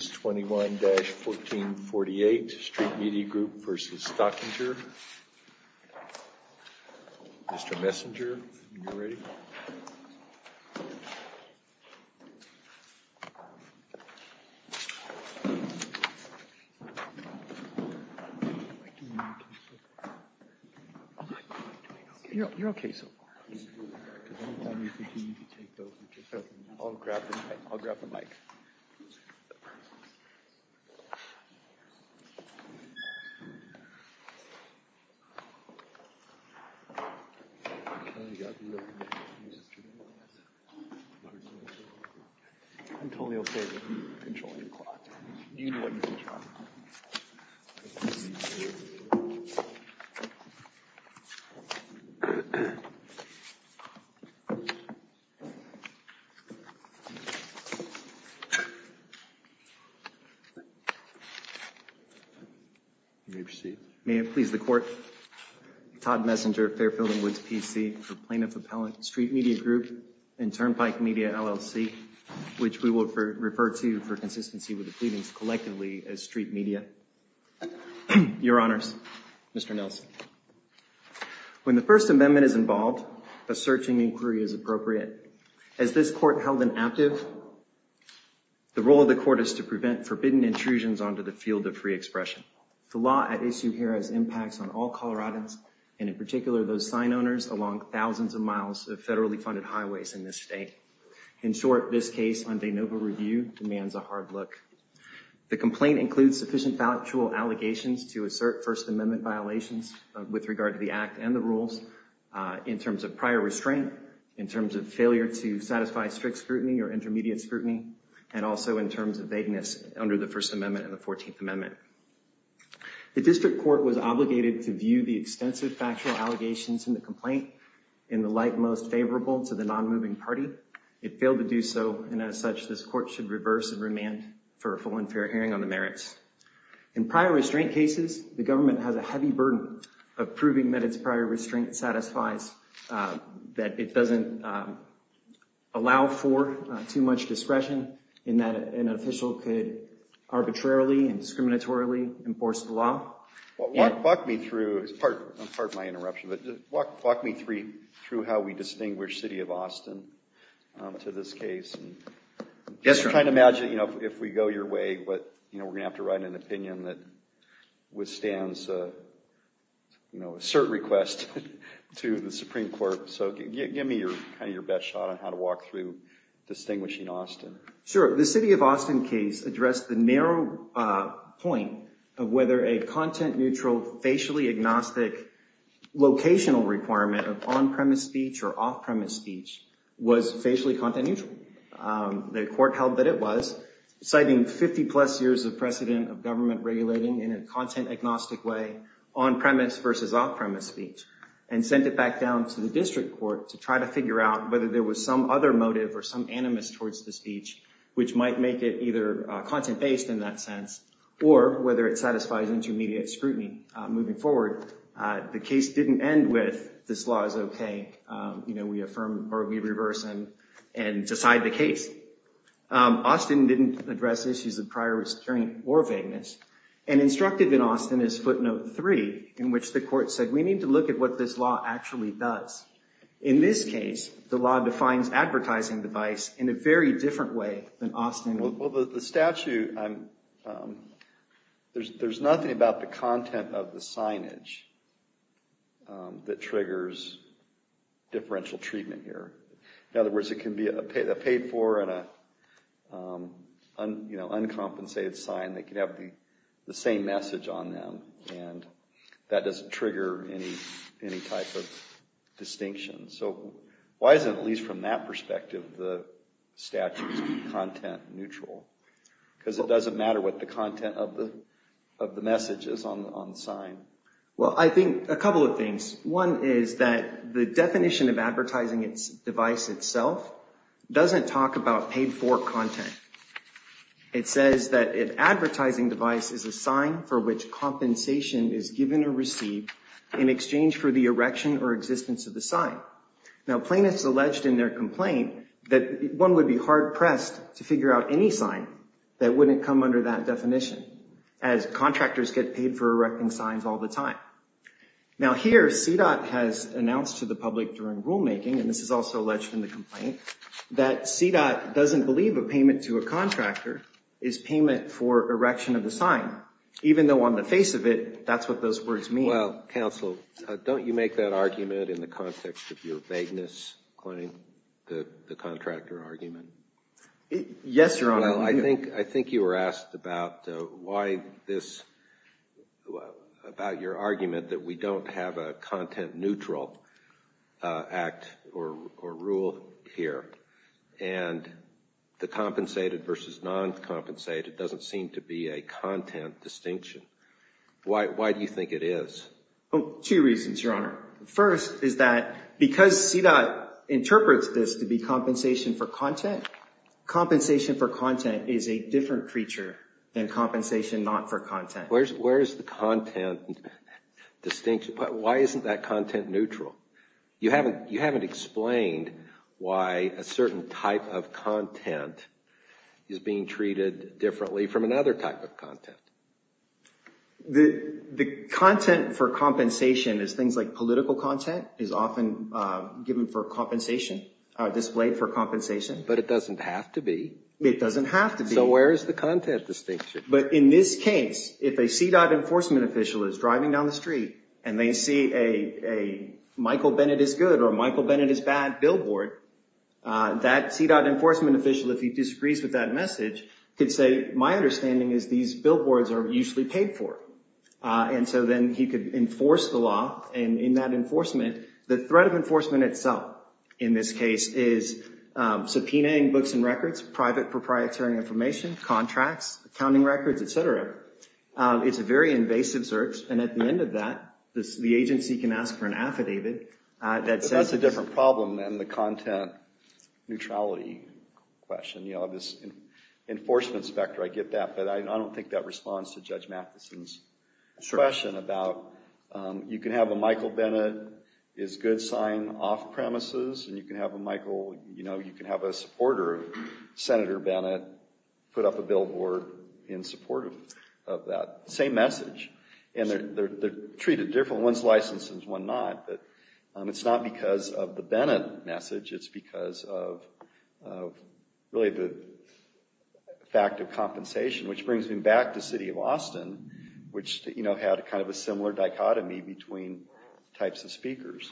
21-1448 StreetMediaGroup v. Stockinger Mr. Messenger, when you're ready. I'm totally okay with controlling the clock. May it please the court, Todd Messenger, Fairfield & Woods PC for Plaintiff Appellant, StreetMediaGroup and Turnpike Media, LLC, which we will refer to for consistency with the pleadings collectively as StreetMedia. Your Honors, Mr. Nelson, when the First Amendment is involved, a searching inquiry is appropriate. As this court held inactive, the role of the court is to prevent forbidden intrusions onto the field of free expression. The law at issue here has impacts on all Coloradans, and in particular, those sign owners along thousands of miles of federally funded highways in this state. In short, this case on de novo review demands a hard look. The complaint includes sufficient factual allegations to assert First Amendment violations with regard to the act and the rules in terms of prior restraint, in terms of failure to satisfy strict scrutiny or intermediate scrutiny, and also in terms of vagueness under the First Amendment and the 14th Amendment. The district court was obligated to view the extensive factual allegations in the complaint in the light most favorable to the non-moving party. It failed to do so, and as such, this court should reverse and remand for a full and fair hearing on the merits. In prior restraint cases, the government has a heavy burden of proving that its prior restraint satisfies, that it doesn't allow for too much discretion, and that an official could arbitrarily and discriminatorily enforce the law. Walk me through, pardon my interruption, but walk me through how we distinguish City of Austin to this case. I'm trying to imagine if we go your way, but we're going to have to write an opinion that withstands a cert request to the Supreme Court. So give me your best shot on how to walk through distinguishing Austin. Sure. The City of Austin case addressed the narrow point of whether a content-neutral, facially agnostic, locational requirement of on-premise speech or off-premise speech was facially content-neutral. The court held that it was, citing 50-plus years of precedent of government regulating in a content-agnostic way, on-premise versus off-premise speech, and sent it back down to the district court to try to figure out whether there was some other motive or some animus towards the speech, which might make it either content-based in that sense, or whether it satisfies intermediate scrutiny moving forward. The case didn't end with, this law is okay, you know, we affirm or we reverse and decide the case. Austin didn't address issues of prior restraint or vagueness. An instructive in Austin is footnote three, in which the court said, we need to look at what this law actually does. In this case, the law defines advertising device in a very different way than Austin would. Well, the statute, there's nothing about the content of the signage that triggers differential treatment here. In other words, it can be a paid-for and an uncompensated sign that can have the same message on them, and that doesn't trigger any type of distinction. So why isn't, at least from that perspective, the statute content-neutral? Because it doesn't matter what the content of the message is on the sign. Well, I think a couple of things. One is that the definition of advertising device itself doesn't talk about paid-for content. It says that an advertising device is a sign for which compensation is given or received in exchange for the erection or existence of the sign. Now, plaintiffs alleged in their complaint that one would be hard-pressed to figure out any sign that wouldn't come under that definition, as contractors get paid for erecting signs all the time. Now here, CDOT has announced to the public during rulemaking, and this is also alleged in the complaint, that CDOT doesn't believe a payment to a contractor is payment for erection of the sign, even though on the face of it, that's what those words mean. Well, counsel, don't you make that argument in the context of your vagueness claim, the contractor argument? Yes, Your Honor. I think you were asked about your argument that we don't have a content-neutral act or rule here, and the compensated versus non-compensated doesn't seem to be a content distinction. Why do you think it is? Two reasons, Your Honor. First is that because CDOT interprets this to be compensation for content, compensation for content is a different creature than compensation not for content. Where is the content distinction? Why isn't that content neutral? You haven't explained why a certain type of content is being treated differently from another type of content. The content for compensation is things like political content is often given for compensation, displayed for compensation. But it doesn't have to be. It doesn't have to be. So where is the content distinction? But in this case, if a CDOT enforcement official is driving down the street and they see a Michael Bennett is good or Michael Bennett is bad billboard, that CDOT enforcement official, if he disagrees with that message, could say, my understanding is these billboards are usually paid for. And so then he could enforce the law, and in that enforcement, the threat of enforcement itself, in this case, is subpoenaing books and records, private proprietary information, contracts, accounting records, et cetera. It's a very invasive search, and at the end of that, the agency can ask for an affidavit that says But that's a different problem than the content neutrality question. You know, this enforcement specter, I get that, but I don't think that responds to Judge Matheson's question about, you can have a Michael Bennett is good sign off premises, and you can have a Michael, you know, you can have a supporter, Senator Bennett, put up a billboard in support of that. Same message. And they're treated differently. One's licensed and one's not, but it's not because of the Bennett message. It's because of really the fact of compensation, which brings me back to city of Austin, which, you know, had kind of a similar dichotomy between types of speakers.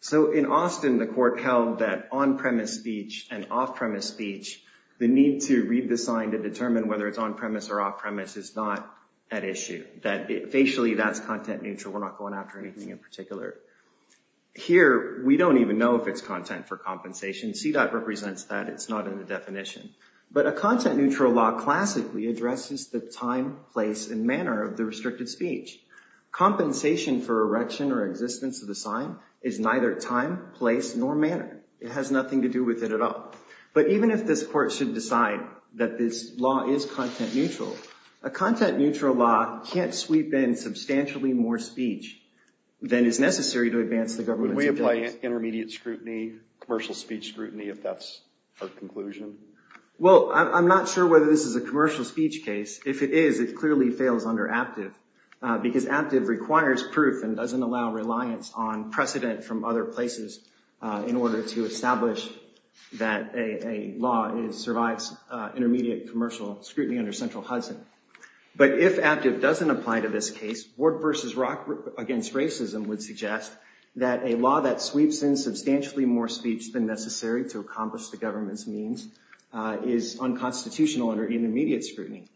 So in Austin, the court held that on-premise speech and off-premise speech, the need to read the sign to determine whether it's on-premise or off-premise is not at issue. That facially, that's content neutral. We're not going after anything in particular. Here, we don't even know if it's content for compensation. CDOT represents that. It's not in the definition. But a content neutral law classically addresses the time, place, and manner of the restricted speech. Compensation for erection or existence of the sign is neither time, place, nor manner. It has nothing to do with it at all. But even if this court should decide that this law is content neutral, a content neutral law can't sweep in substantially more speech than is necessary to advance the government's objectives. Can we apply intermediate scrutiny, commercial speech scrutiny, if that's our conclusion? Well, I'm not sure whether this is a commercial speech case. If it is, it clearly fails under APTIV, because APTIV requires proof and doesn't allow reliance on precedent from other places in order to establish that a law survives intermediate commercial scrutiny under Central Hudson. But if APTIV doesn't apply to this case, Ward v. Rock v. Racism would suggest that a law that sweeps in substantially more speech than necessary to accomplish the government's means is unconstitutional under intermediate scrutiny.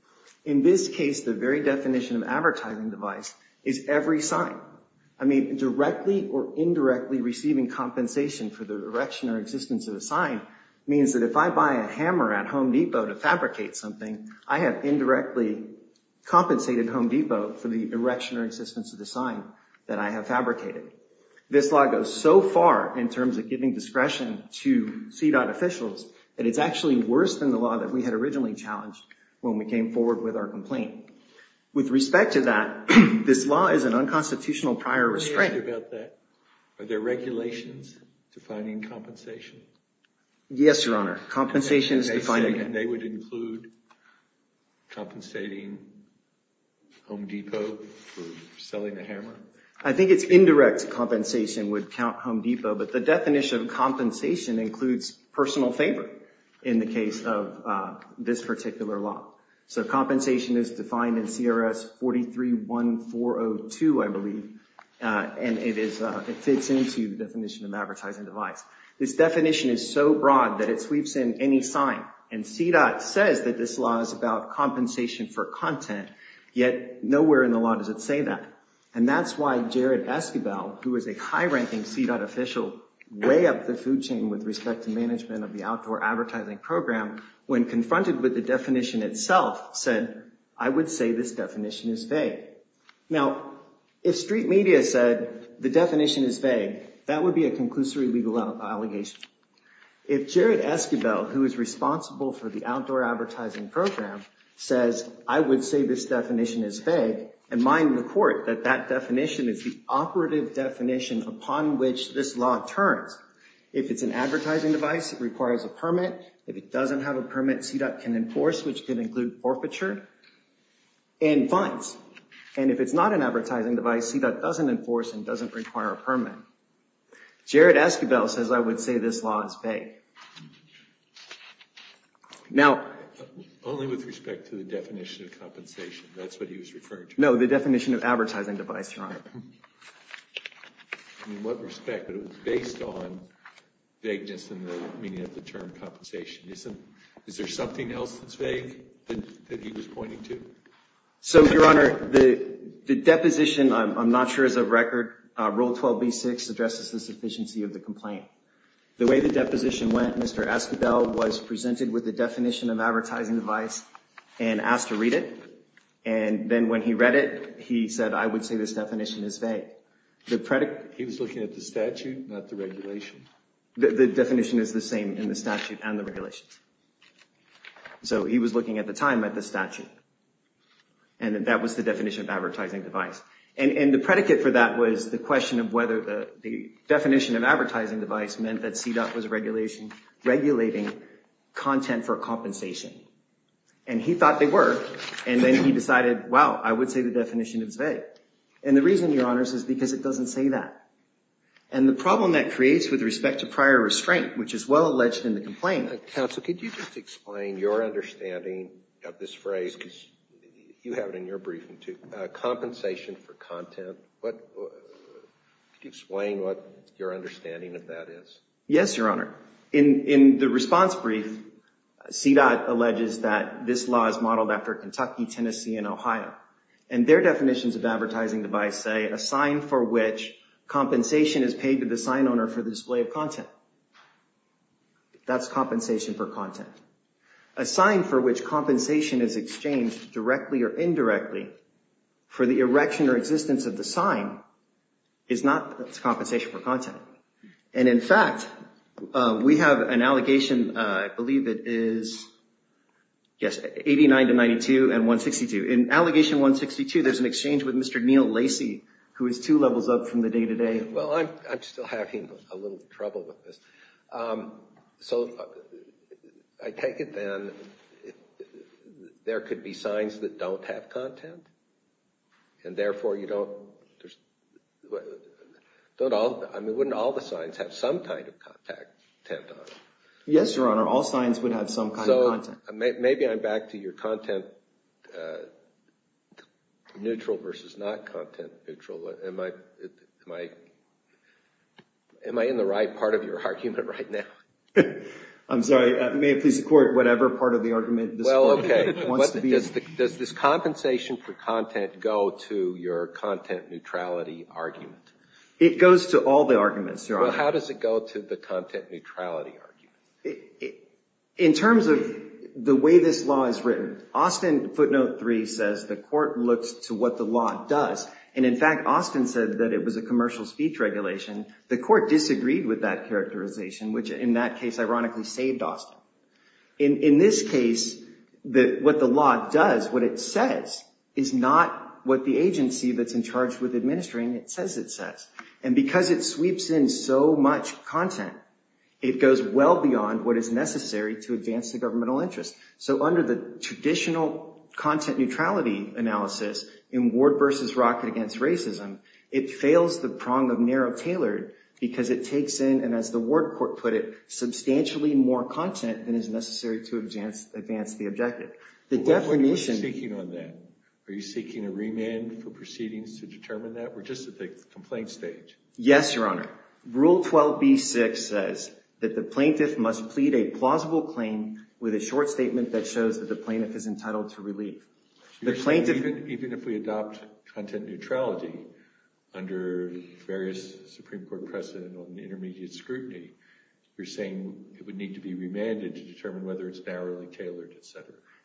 In this case, the very definition of advertising device is every sign. I mean, directly or indirectly receiving compensation for the erection or existence of a sign means that if I buy a hammer at Home Depot to fabricate something, I have indirectly compensated Home Depot for the erection or existence of the sign that I have fabricated. This law goes so far in terms of giving discretion to CDOT officials that it's actually worse than the law that we had originally challenged when we came forward with our complaint. With respect to that, this law is an unconstitutional prior restraint. Are there regulations defining compensation? Yes, Your Honor. Compensation is defined. And they would include compensating Home Depot for selling the hammer? I think it's indirect compensation would count Home Depot, but the definition of compensation includes personal favor in the case of this particular law. So compensation is defined in CRS 43-1402, I believe, and it fits into the definition of advertising device. This definition is so broad that it sweeps in any sign. And CDOT says that this law is about compensation for content, yet nowhere in the law does it say that. And that's why Jared Esquibel, who is a high-ranking CDOT official, way up the food chain with respect to management of the outdoor advertising program, when confronted with the definition itself, said, I would say this definition is vague. Now, if street media said the definition is vague, that would be a conclusory legal allegation. If Jared Esquibel, who is responsible for the outdoor advertising program, says, I would say this definition is vague, and mine report that that definition is the operative definition upon which this law turns. If it doesn't have a permit, CDOT can enforce, which can include forfeiture and fines. And if it's not an advertising device, CDOT doesn't enforce and doesn't require a permit. Jared Esquibel says, I would say this law is vague. Only with respect to the definition of compensation. That's what he was referring to. In what respect? But it was based on vagueness in the meaning of the term compensation. Is there something else that's vague that he was pointing to? So, Your Honor, the deposition, I'm not sure is of record. Rule 12b-6 addresses the sufficiency of the complaint. The way the deposition went, Mr. Esquibel was presented with the definition of advertising device and asked to read it. And then when he read it, he said, I would say this definition is vague. He was looking at the statute, not the regulation. The definition is the same in the statute and the regulations. So he was looking at the time at the statute. And that was the definition of advertising device. And the predicate for that was the question of whether the definition of advertising device meant that CDOT was regulating content for compensation. And he thought they were. And then he decided, wow, I would say the definition is vague. And the reason, Your Honor, is because it doesn't say that. And the problem that creates with respect to prior restraint, which is well alleged in the complaint. Counsel, could you just explain your understanding of this phrase? Because you have it in your briefing too. Compensation for content. Could you explain what your understanding of that is? Yes, Your Honor. In the response brief, CDOT alleges that this law is modeled after Kentucky, Tennessee, and Ohio. And their definitions of advertising device say a sign for which compensation is paid to the sign owner for the display of content. That's compensation for content. A sign for which compensation is exchanged directly or indirectly for the erection or existence of the sign is not compensation for content. And in fact, we have an allegation, I believe it is, yes, 89 to 92 and 162. In allegation 162, there's an exchange with Mr. Neal Lacey, who is two levels up from the day to day. Well, I'm still having a little trouble with this. So I take it then there could be signs that don't have content. And therefore, wouldn't all the signs have some kind of content on them? Yes, Your Honor. All signs would have some kind of content. So maybe I'm back to your content neutral versus not content neutral. Am I in the right part of your argument right now? I'm sorry. May it please the Court, whatever part of the argument this is. Okay. Does this compensation for content go to your content neutrality argument? It goes to all the arguments, Your Honor. Well, how does it go to the content neutrality argument? In terms of the way this law is written, Austin footnote 3 says the court looks to what the law does. And in fact, Austin said that it was a commercial speech regulation. The court disagreed with that characterization, which in that case ironically saved Austin. In this case, what the law does, what it says, is not what the agency that's in charge with administering it says it says. And because it sweeps in so much content, it goes well beyond what is necessary to advance the governmental interest. So under the traditional content neutrality analysis in Ward v. Rocket v. Racism, it fails the prong of narrow-tailored because it takes in, and as the Ward court put it, substantially more content than is necessary to advance the objective. We're speaking on that. Are you seeking a remand for proceedings to determine that? We're just at the complaint stage. Yes, Your Honor. Rule 12b-6 says that the plaintiff must plead a plausible claim with a short statement that shows that the plaintiff is entitled to relief. Even if we adopt content neutrality under various Supreme Court precedent on intermediate scrutiny, you're saying it would need to be remanded to determine whether it's narrowly tailored, etc.?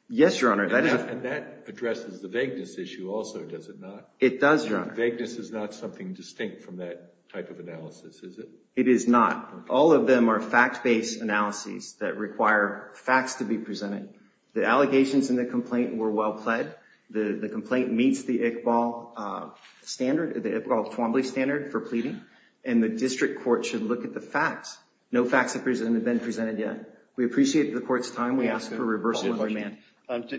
Yes, Your Honor. And that addresses the vagueness issue also, does it not? It does, Your Honor. Vagueness is not something distinct from that type of analysis, is it? It is not. All of them are fact-based analyses that require facts to be presented. The allegations in the complaint were well pled. The complaint meets the Iqbal standard, the Iqbal-Twombly standard for pleading, and the district court should look at the facts. No facts have been presented yet. We appreciate the court's time. We ask for a reversal of remand.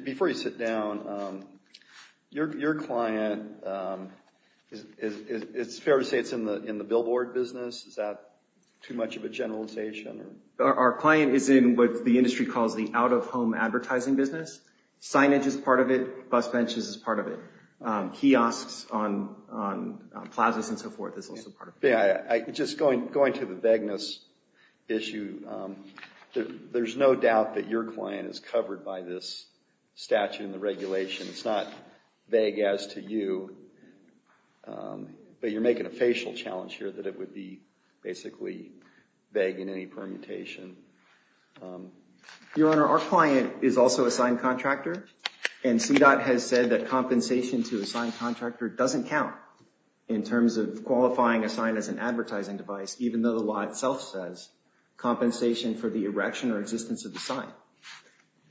Before you sit down, your client, it's fair to say it's in the billboard business. Is that too much of a generalization? Our client is in what the industry calls the out-of-home advertising business. Signage is part of it. Bus benches is part of it. Kiosks on plazas and so forth is also part of it. Just going to the vagueness issue, there's no doubt that your client is covered by this statute and the regulation. It's not vague as to you, but you're making a facial challenge here that it would be basically vague in any permutation. Your Honor, our client is also a signed contractor, and CDOT has said that compensation to a signed contractor doesn't count in terms of qualifying a sign as an advertising device, even though the law itself says compensation for the erection or existence of the sign.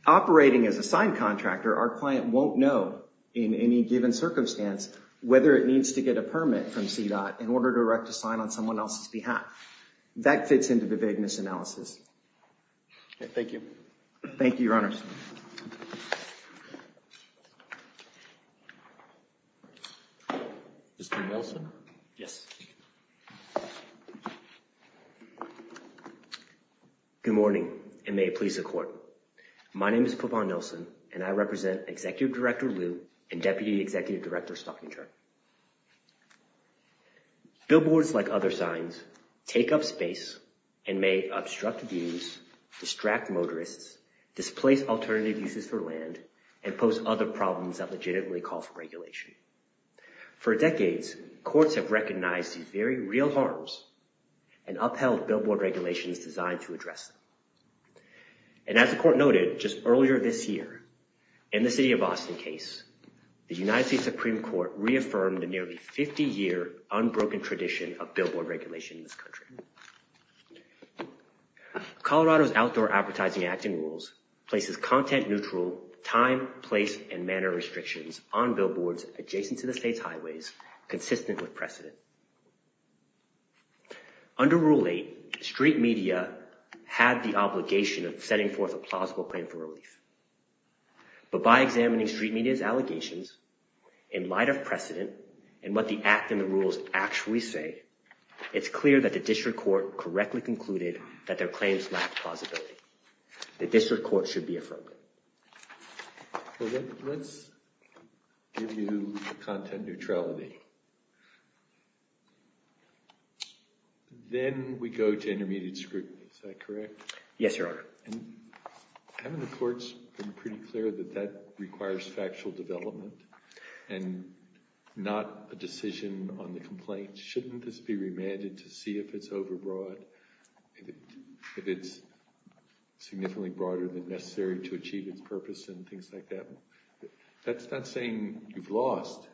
Operating as a signed contractor, our client won't know in any given circumstance whether it needs to get a permit from CDOT in order to erect a sign on someone else's behalf. That fits into the vagueness analysis. Thank you. Thank you, Your Honor. Mr. Nelson? Good morning, and may it please the Court. My name is Pavan Nelson, and I represent Executive Director Liu and Deputy Executive Director Stockinger. Billboards, like other signs, take up space and may obstruct views, distract motorists, displace alternative uses for land, and pose other problems that legitimately call for regulation. For decades, courts have recognized these very real harms, and upheld billboard regulations designed to address them. And as the Court noted just earlier this year, in the city of Boston case, the United States Supreme Court reaffirmed a nearly 50-year unbroken tradition of billboard regulation in this country. Colorado's Outdoor Advertising Act and rules places content-neutral time, place, and manner restrictions on billboards adjacent to the state's highways consistent with precedent. Under Rule 8, street media had the obligation of setting forth a plausible claim for relief. But by examining street media's allegations, in light of precedent, and what the Act and the rules actually say, it's clear that the District Court correctly concluded that their claims lacked plausibility. The District Court should be affirmed. Let's give you content neutrality. Then we go to intermediate scrutiny, is that correct? Yes, Your Honor. And haven't the courts been pretty clear that that requires factual development and not a decision on the complaint? Shouldn't this be remanded to see if it's overbroad, if it's significantly broader than necessary to achieve its purpose and things like that? That's not saying you've lost.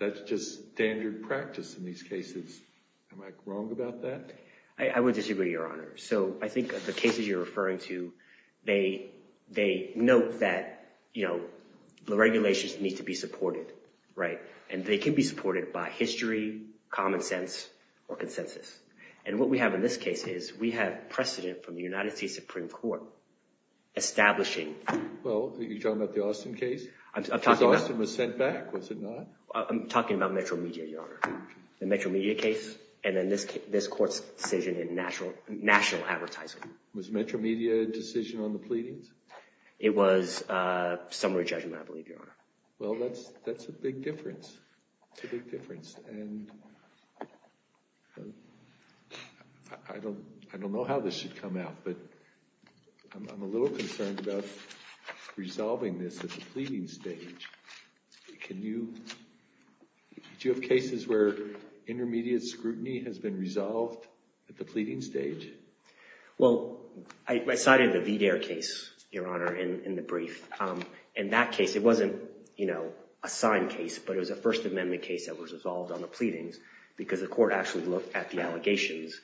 That's just standard practice in these cases. Am I wrong about that? I would disagree, Your Honor. So I think the cases you're referring to, they note that, you know, the regulations need to be supported, right? And they can be supported by history, common sense, or consensus. And what we have in this case is we have precedent from the United States Supreme Court establishing… Well, are you talking about the Austin case? I'm talking about… Because Austin was sent back, was it not? I'm talking about Metro Media, Your Honor. The Metro Media case, and then this court's decision in national advertising. Was Metro Media's decision on the pleadings? It was summary judgment, I believe, Your Honor. Well, that's a big difference. That's a big difference. And I don't know how this should come out, but I'm a little concerned about resolving this at the pleading stage. Can you… Do you have cases where intermediate scrutiny has been resolved at the pleading stage? Well, I cited the VDARE case, Your Honor, in the brief. In that case, it wasn't, you know, a signed case, but it was a First Amendment case that was resolved on the pleadings because the court actually looked at the allegations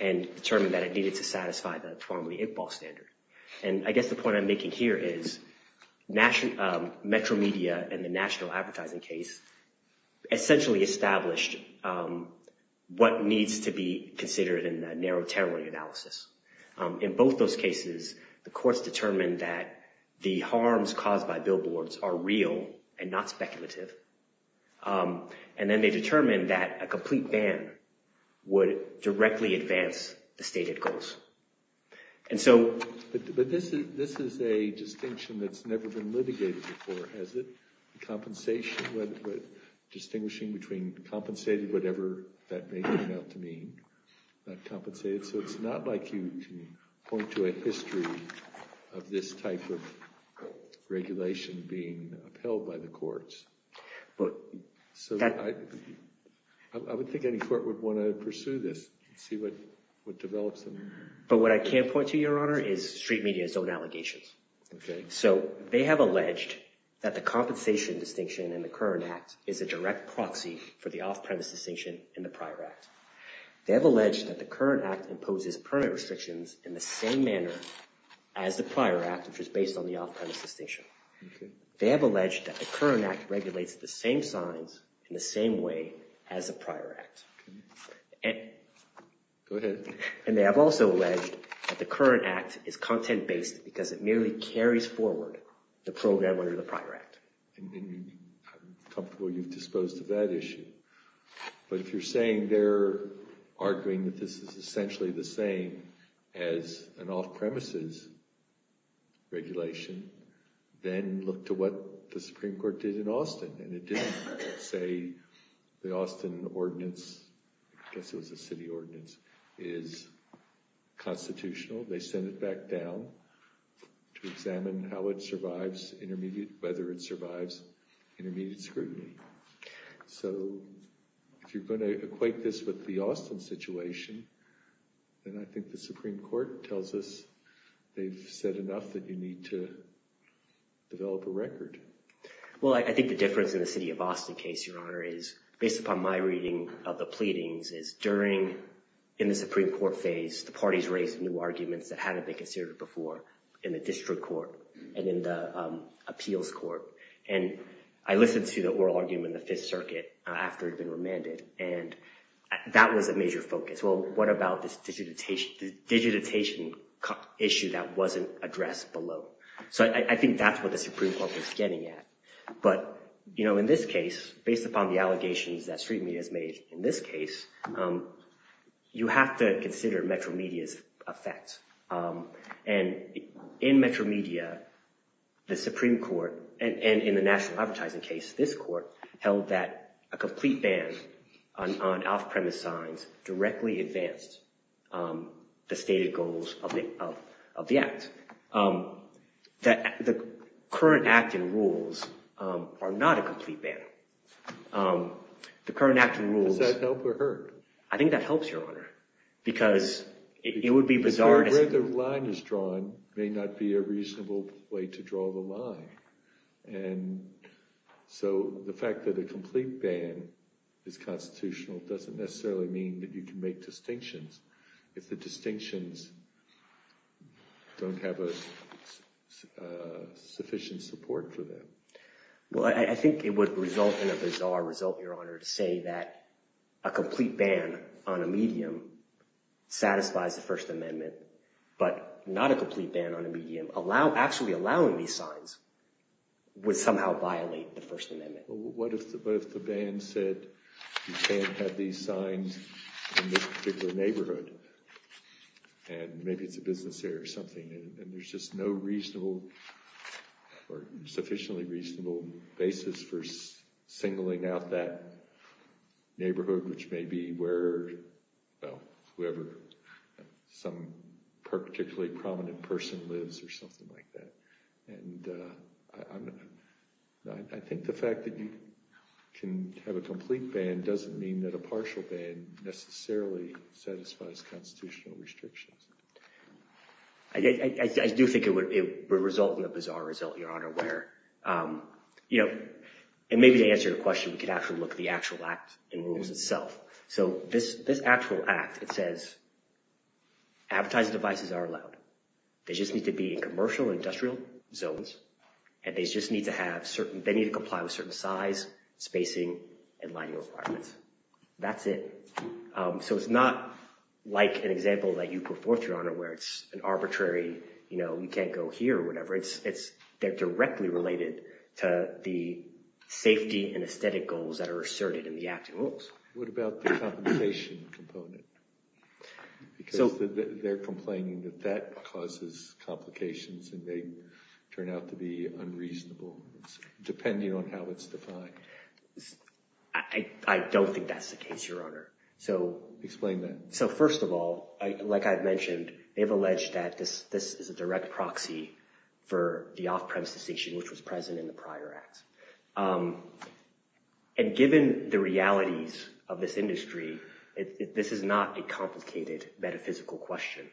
and determined that it needed to satisfy the formerly Iqbal standard. And I guess the point I'm making here is Metro Media and the national advertising case essentially established what needs to be considered in the narrow terror analysis. In both those cases, the courts determined that the harms caused by billboards are real and not speculative. And then they determined that a complete ban would directly advance the stated goals. And so… But this is a distinction that's never been litigated before, has it? Compensation, distinguishing between compensated, whatever that may turn out to mean, not compensated. So it's not like you can point to a history of this type of regulation being upheld by the courts. But… So I would think any court would want to pursue this and see what develops. But what I can point to, Your Honor, is Street Media's own allegations. So they have alleged that the compensation distinction in the current act is a direct proxy for the off-premise distinction in the prior act. They have alleged that the current act imposes permit restrictions in the same manner as the prior act, which is based on the off-premise distinction. They have alleged that the current act regulates the same signs in the same way as the prior act. Go ahead. And they have also alleged that the current act is content-based because it merely carries forward the program under the prior act. I'm comfortable you've disposed of that issue. But if you're saying they're arguing that this is essentially the same as an off-premises regulation, then look to what the Supreme Court did in Austin. And it didn't say the Austin ordinance, I guess it was a city ordinance, is constitutional. They sent it back down to examine how it survives intermediate, whether it survives intermediate scrutiny. So if you're going to equate this with the Austin situation, then I think the Supreme Court tells us they've said enough that you need to develop a record. Well, I think the difference in the city of Austin case, Your Honor, is, based upon my reading of the pleadings, is during, in the Supreme Court phase, the parties raised new arguments that hadn't been considered before in the district court and in the appeals court. And I listened to the oral argument in the Fifth Circuit after it had been remanded. And that was a major focus. Well, what about this digitization issue that wasn't addressed below? So I think that's what the Supreme Court was getting at. But, you know, in this case, based upon the allegations that street media has made in this case, you have to consider Metro Media's effect. And in Metro Media, the Supreme Court, and in the national advertising case, this court held that a complete ban on off-premise signs directly advanced the stated goals of the act. The current act and rules are not a complete ban. The current act and rules... Does that help or hurt? I think that helps, Your Honor, because it would be bizarre... Where the line is drawn may not be a reasonable way to draw the line. And so the fact that a complete ban is constitutional doesn't necessarily mean that you can make distinctions if the distinctions don't have a sufficient support for them. Well, I think it would result in a bizarre result, Your Honor, to say that a complete ban on a medium satisfies the First Amendment, but not a complete ban on a medium. Actually allowing these signs would somehow violate the First Amendment. But what if the ban said you can't have these signs in this particular neighborhood, and maybe it's a business area or something, and there's just no reasonable or sufficiently reasonable basis for singling out that neighborhood, which may be where, well, whoever, some particularly prominent person lives or something like that. And I think the fact that you can have a complete ban doesn't mean that a partial ban necessarily satisfies constitutional restrictions. I do think it would result in a bizarre result, Your Honor, where, you know, and maybe to answer your question, we could actually look at the actual Act in rules itself. So this actual Act, it says advertising devices are allowed. They just need to be in commercial and industrial zones, and they just need to comply with certain size, spacing, and lighting requirements. That's it. So it's not like an example that you put forth, Your Honor, where it's an arbitrary, you know, you can't go here or whatever. They're directly related to the safety and aesthetic goals that are asserted in the Act in rules. What about the complication component? Because they're complaining that that causes complications, and they turn out to be unreasonable, depending on how it's defined. I don't think that's the case, Your Honor. Explain that. So first of all, like I've mentioned, they've alleged that this is a direct proxy for the off-premise distinction, which was present in the prior Act. And given the realities of this industry, this is not a complicated metaphysical question.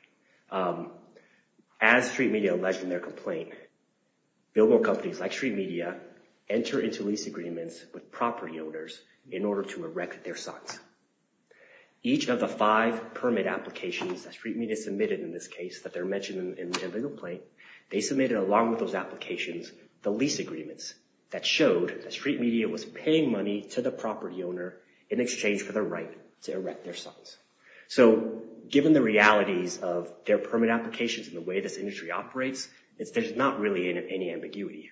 As street media alleged in their complaint, billboard companies like street media enter into lease agreements with property owners in order to erect their sites. Each of the five permit applications that street media submitted in this case that they're mentioning in their legal complaint, they submitted along with those applications the lease agreements that showed that street media was paying money to the property owner in exchange for the right to erect their sites. So given the realities of their permit applications and the way this industry operates, there's not really any ambiguity here.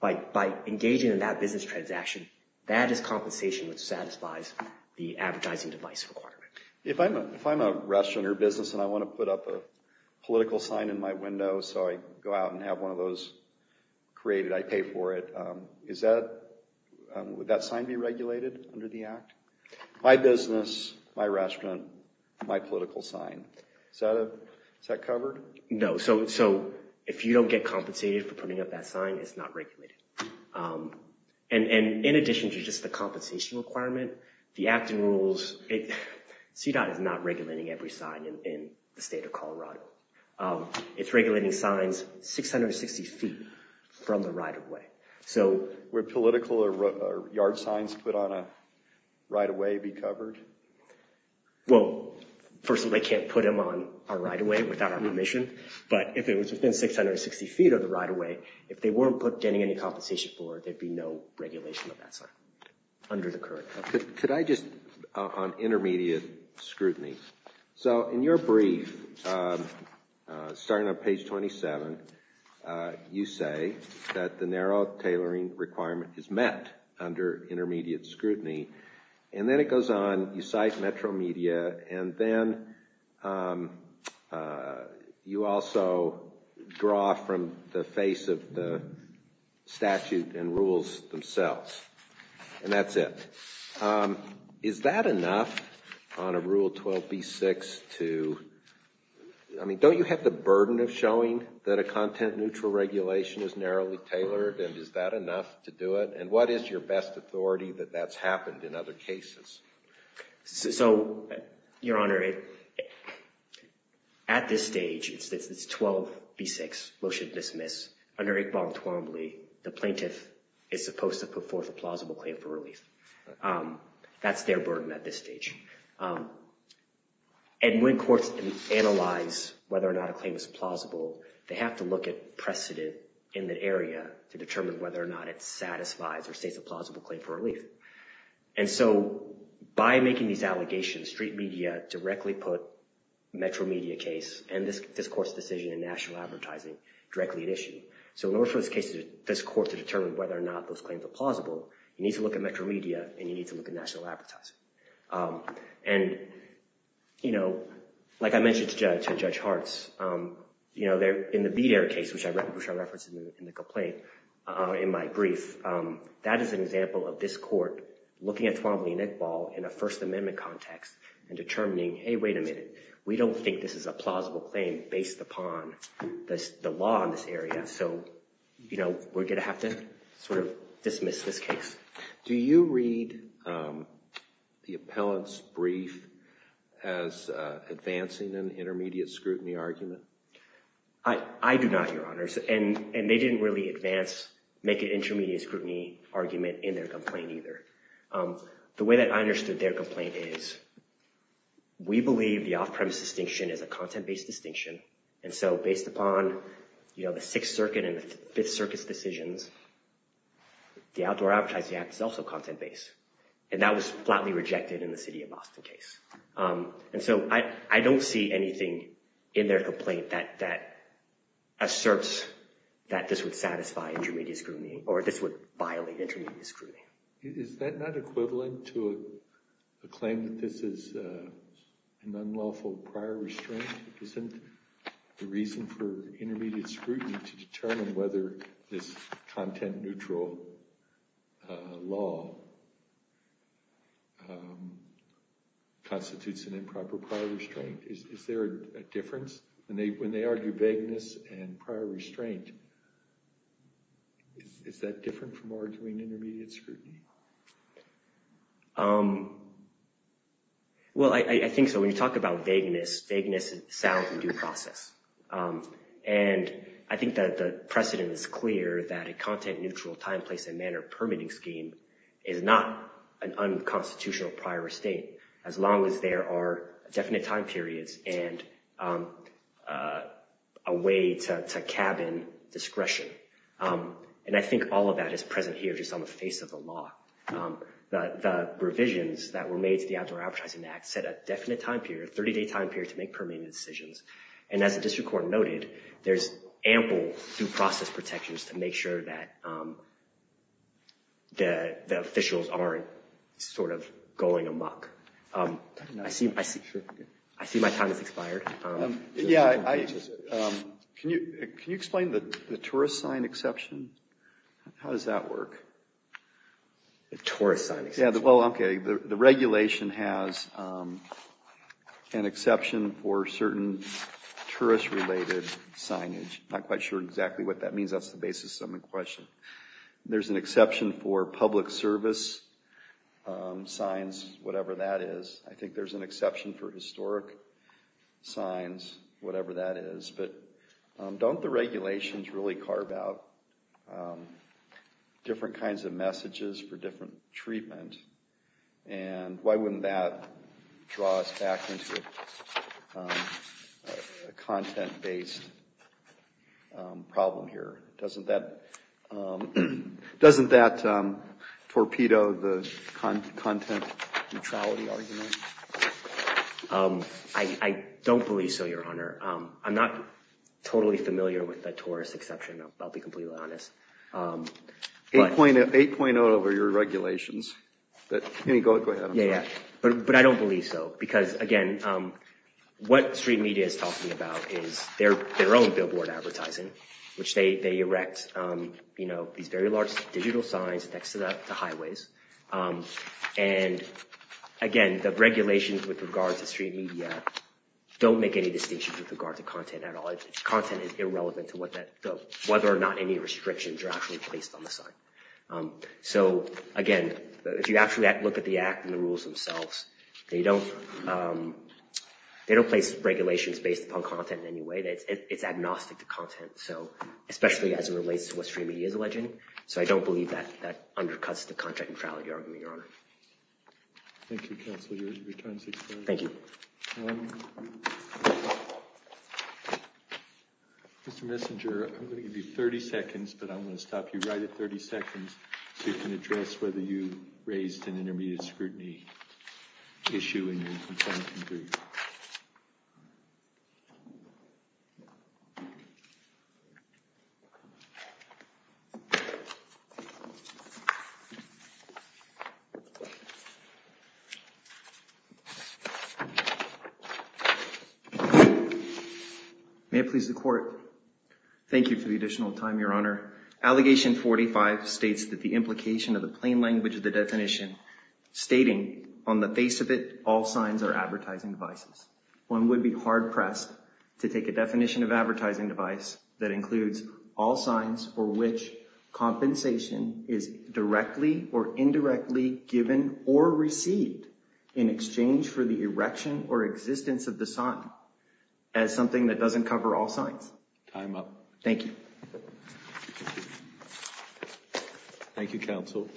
By engaging in that business transaction, that is compensation that satisfies the advertising device requirement. If I'm a restaurant or business and I want to put up a political sign in my window so I go out and have one of those created, I pay for it, would that sign be regulated under the Act? My business, my restaurant, my political sign. Is that covered? No. So if you don't get compensated for putting up that sign, it's not regulated. And in addition to just the compensation requirement, the acting rules, CDOT is not regulating every sign in the state of Colorado. It's regulating signs 660 feet from the right-of-way. Would political or yard signs put on a right-of-way be covered? Well, first of all, they can't put them on a right-of-way without our permission. But if it was within 660 feet of the right-of-way, if they weren't getting any compensation for it, there would be no regulation of that sign under the current. Could I just, on intermediate scrutiny. So in your brief, starting on page 27, you say that the narrow tailoring requirement is met under intermediate scrutiny. And then it goes on, you cite Metro Media, and then you also draw from the face of the statute and rules themselves. And that's it. Is that enough on a Rule 12b-6 to, I mean, don't you have the burden of showing that a content-neutral regulation is narrowly tailored, and is that enough to do it? And what is your best authority that that's happened in other cases? So, Your Honor, at this stage, it's 12b-6, motion to dismiss. Under Iqbal and Twombly, the plaintiff is supposed to put forth a plausible claim for relief. That's their burden at this stage. And when courts analyze whether or not a claim is plausible, they have to look at precedent in the area to determine whether or not it satisfies or states a plausible claim for relief. And so by making these allegations, street media directly put Metro Media case and this court's decision in national advertising directly at issue. So in order for this court to determine whether or not those claims are plausible, you need to look at Metro Media and you need to look at national advertising. And, you know, like I mentioned to Judge Hartz, you know, in the Bader case, which I referenced in the complaint in my brief, that is an example of this court looking at Twombly and Iqbal in a First Amendment context and determining, hey, wait a minute, we don't think this is a plausible claim based upon the law in this area. So, you know, we're going to have to sort of dismiss this case. Do you read the appellant's brief as advancing an intermediate scrutiny argument? I do not, Your Honors. And they didn't really advance, make an intermediate scrutiny argument in their complaint either. The way that I understood their complaint is we believe the off-premise distinction is a content-based distinction. And so based upon, you know, the Sixth Circuit and the Fifth Circuit's decisions, the Outdoor Advertising Act is also content-based. And that was flatly rejected in the city of Boston case. And so I don't see anything in their complaint that asserts that this would satisfy intermediate scrutiny or this would violate intermediate scrutiny. Is that not equivalent to a claim that this is an unlawful prior restraint? Isn't the reason for intermediate scrutiny to determine whether this content-neutral law constitutes an improper prior restraint? Is there a difference when they argue vagueness and prior restraint? Is that different from arguing intermediate scrutiny? Well, I think so. When you talk about vagueness, vagueness sounds in due process. And I think that the precedent is clear that a content-neutral time, place, and manner permitting scheme is not an unconstitutional prior restraint, as long as there are definite time periods and a way to cabin discretion. And I think all of that is present here just on the face of the law. The revisions that were made to the Outdoor Advertising Act set a definite time period, a 30-day time period, to make permitting decisions. And as the district court noted, there's ample due process protections to make sure that the officials aren't sort of going amok. I see my time has expired. Yeah, can you explain the tourist sign exception? How does that work? The tourist sign exception? Yeah, well, okay. The regulation has an exception for certain tourist-related signage. I'm not quite sure exactly what that means. That's the basis of my question. There's an exception for public service signs, whatever that is. I think there's an exception for historic signs, whatever that is. But don't the regulations really carve out different kinds of messages for different treatment? And why wouldn't that draw us back into a content-based problem here? Doesn't that torpedo the content neutrality argument? I don't believe so, Your Honor. I'm not totally familiar with the tourist exception, I'll be completely honest. 8.0 over your regulations. Go ahead. But I don't believe so. Because, again, what street media is talking about is their own billboard advertising, which they erect these very large digital signs next to highways. And, again, the regulations with regard to street media don't make any distinction with regard to content at all. Content is irrelevant to whether or not any restrictions are actually placed on the sign. So, again, if you actually look at the Act and the rules themselves, they don't place regulations based upon content in any way. It's agnostic to content, especially as it relates to what street media is alleging. So I don't believe that that undercuts the contract neutrality argument, Your Honor. Thank you, Counsel. Your time is expired. Thank you. Mr. Messenger, I'm going to give you 30 seconds, but I'm going to stop you right at 30 seconds so you can address whether you raised an intermediate scrutiny issue in your complaint. May it please the Court. Thank you for the additional time, Your Honor. Allegation 45 states that the implication of the plain language of the definition stating, on the face of it, all signs are advertising devices. One would be hard-pressed to take a definition of advertising device that includes all signs for which compensation is directly or indirectly given or received in exchange for the erection or existence of the sign as something that doesn't cover all signs. Time up. Thank you. Thank you, Counsel.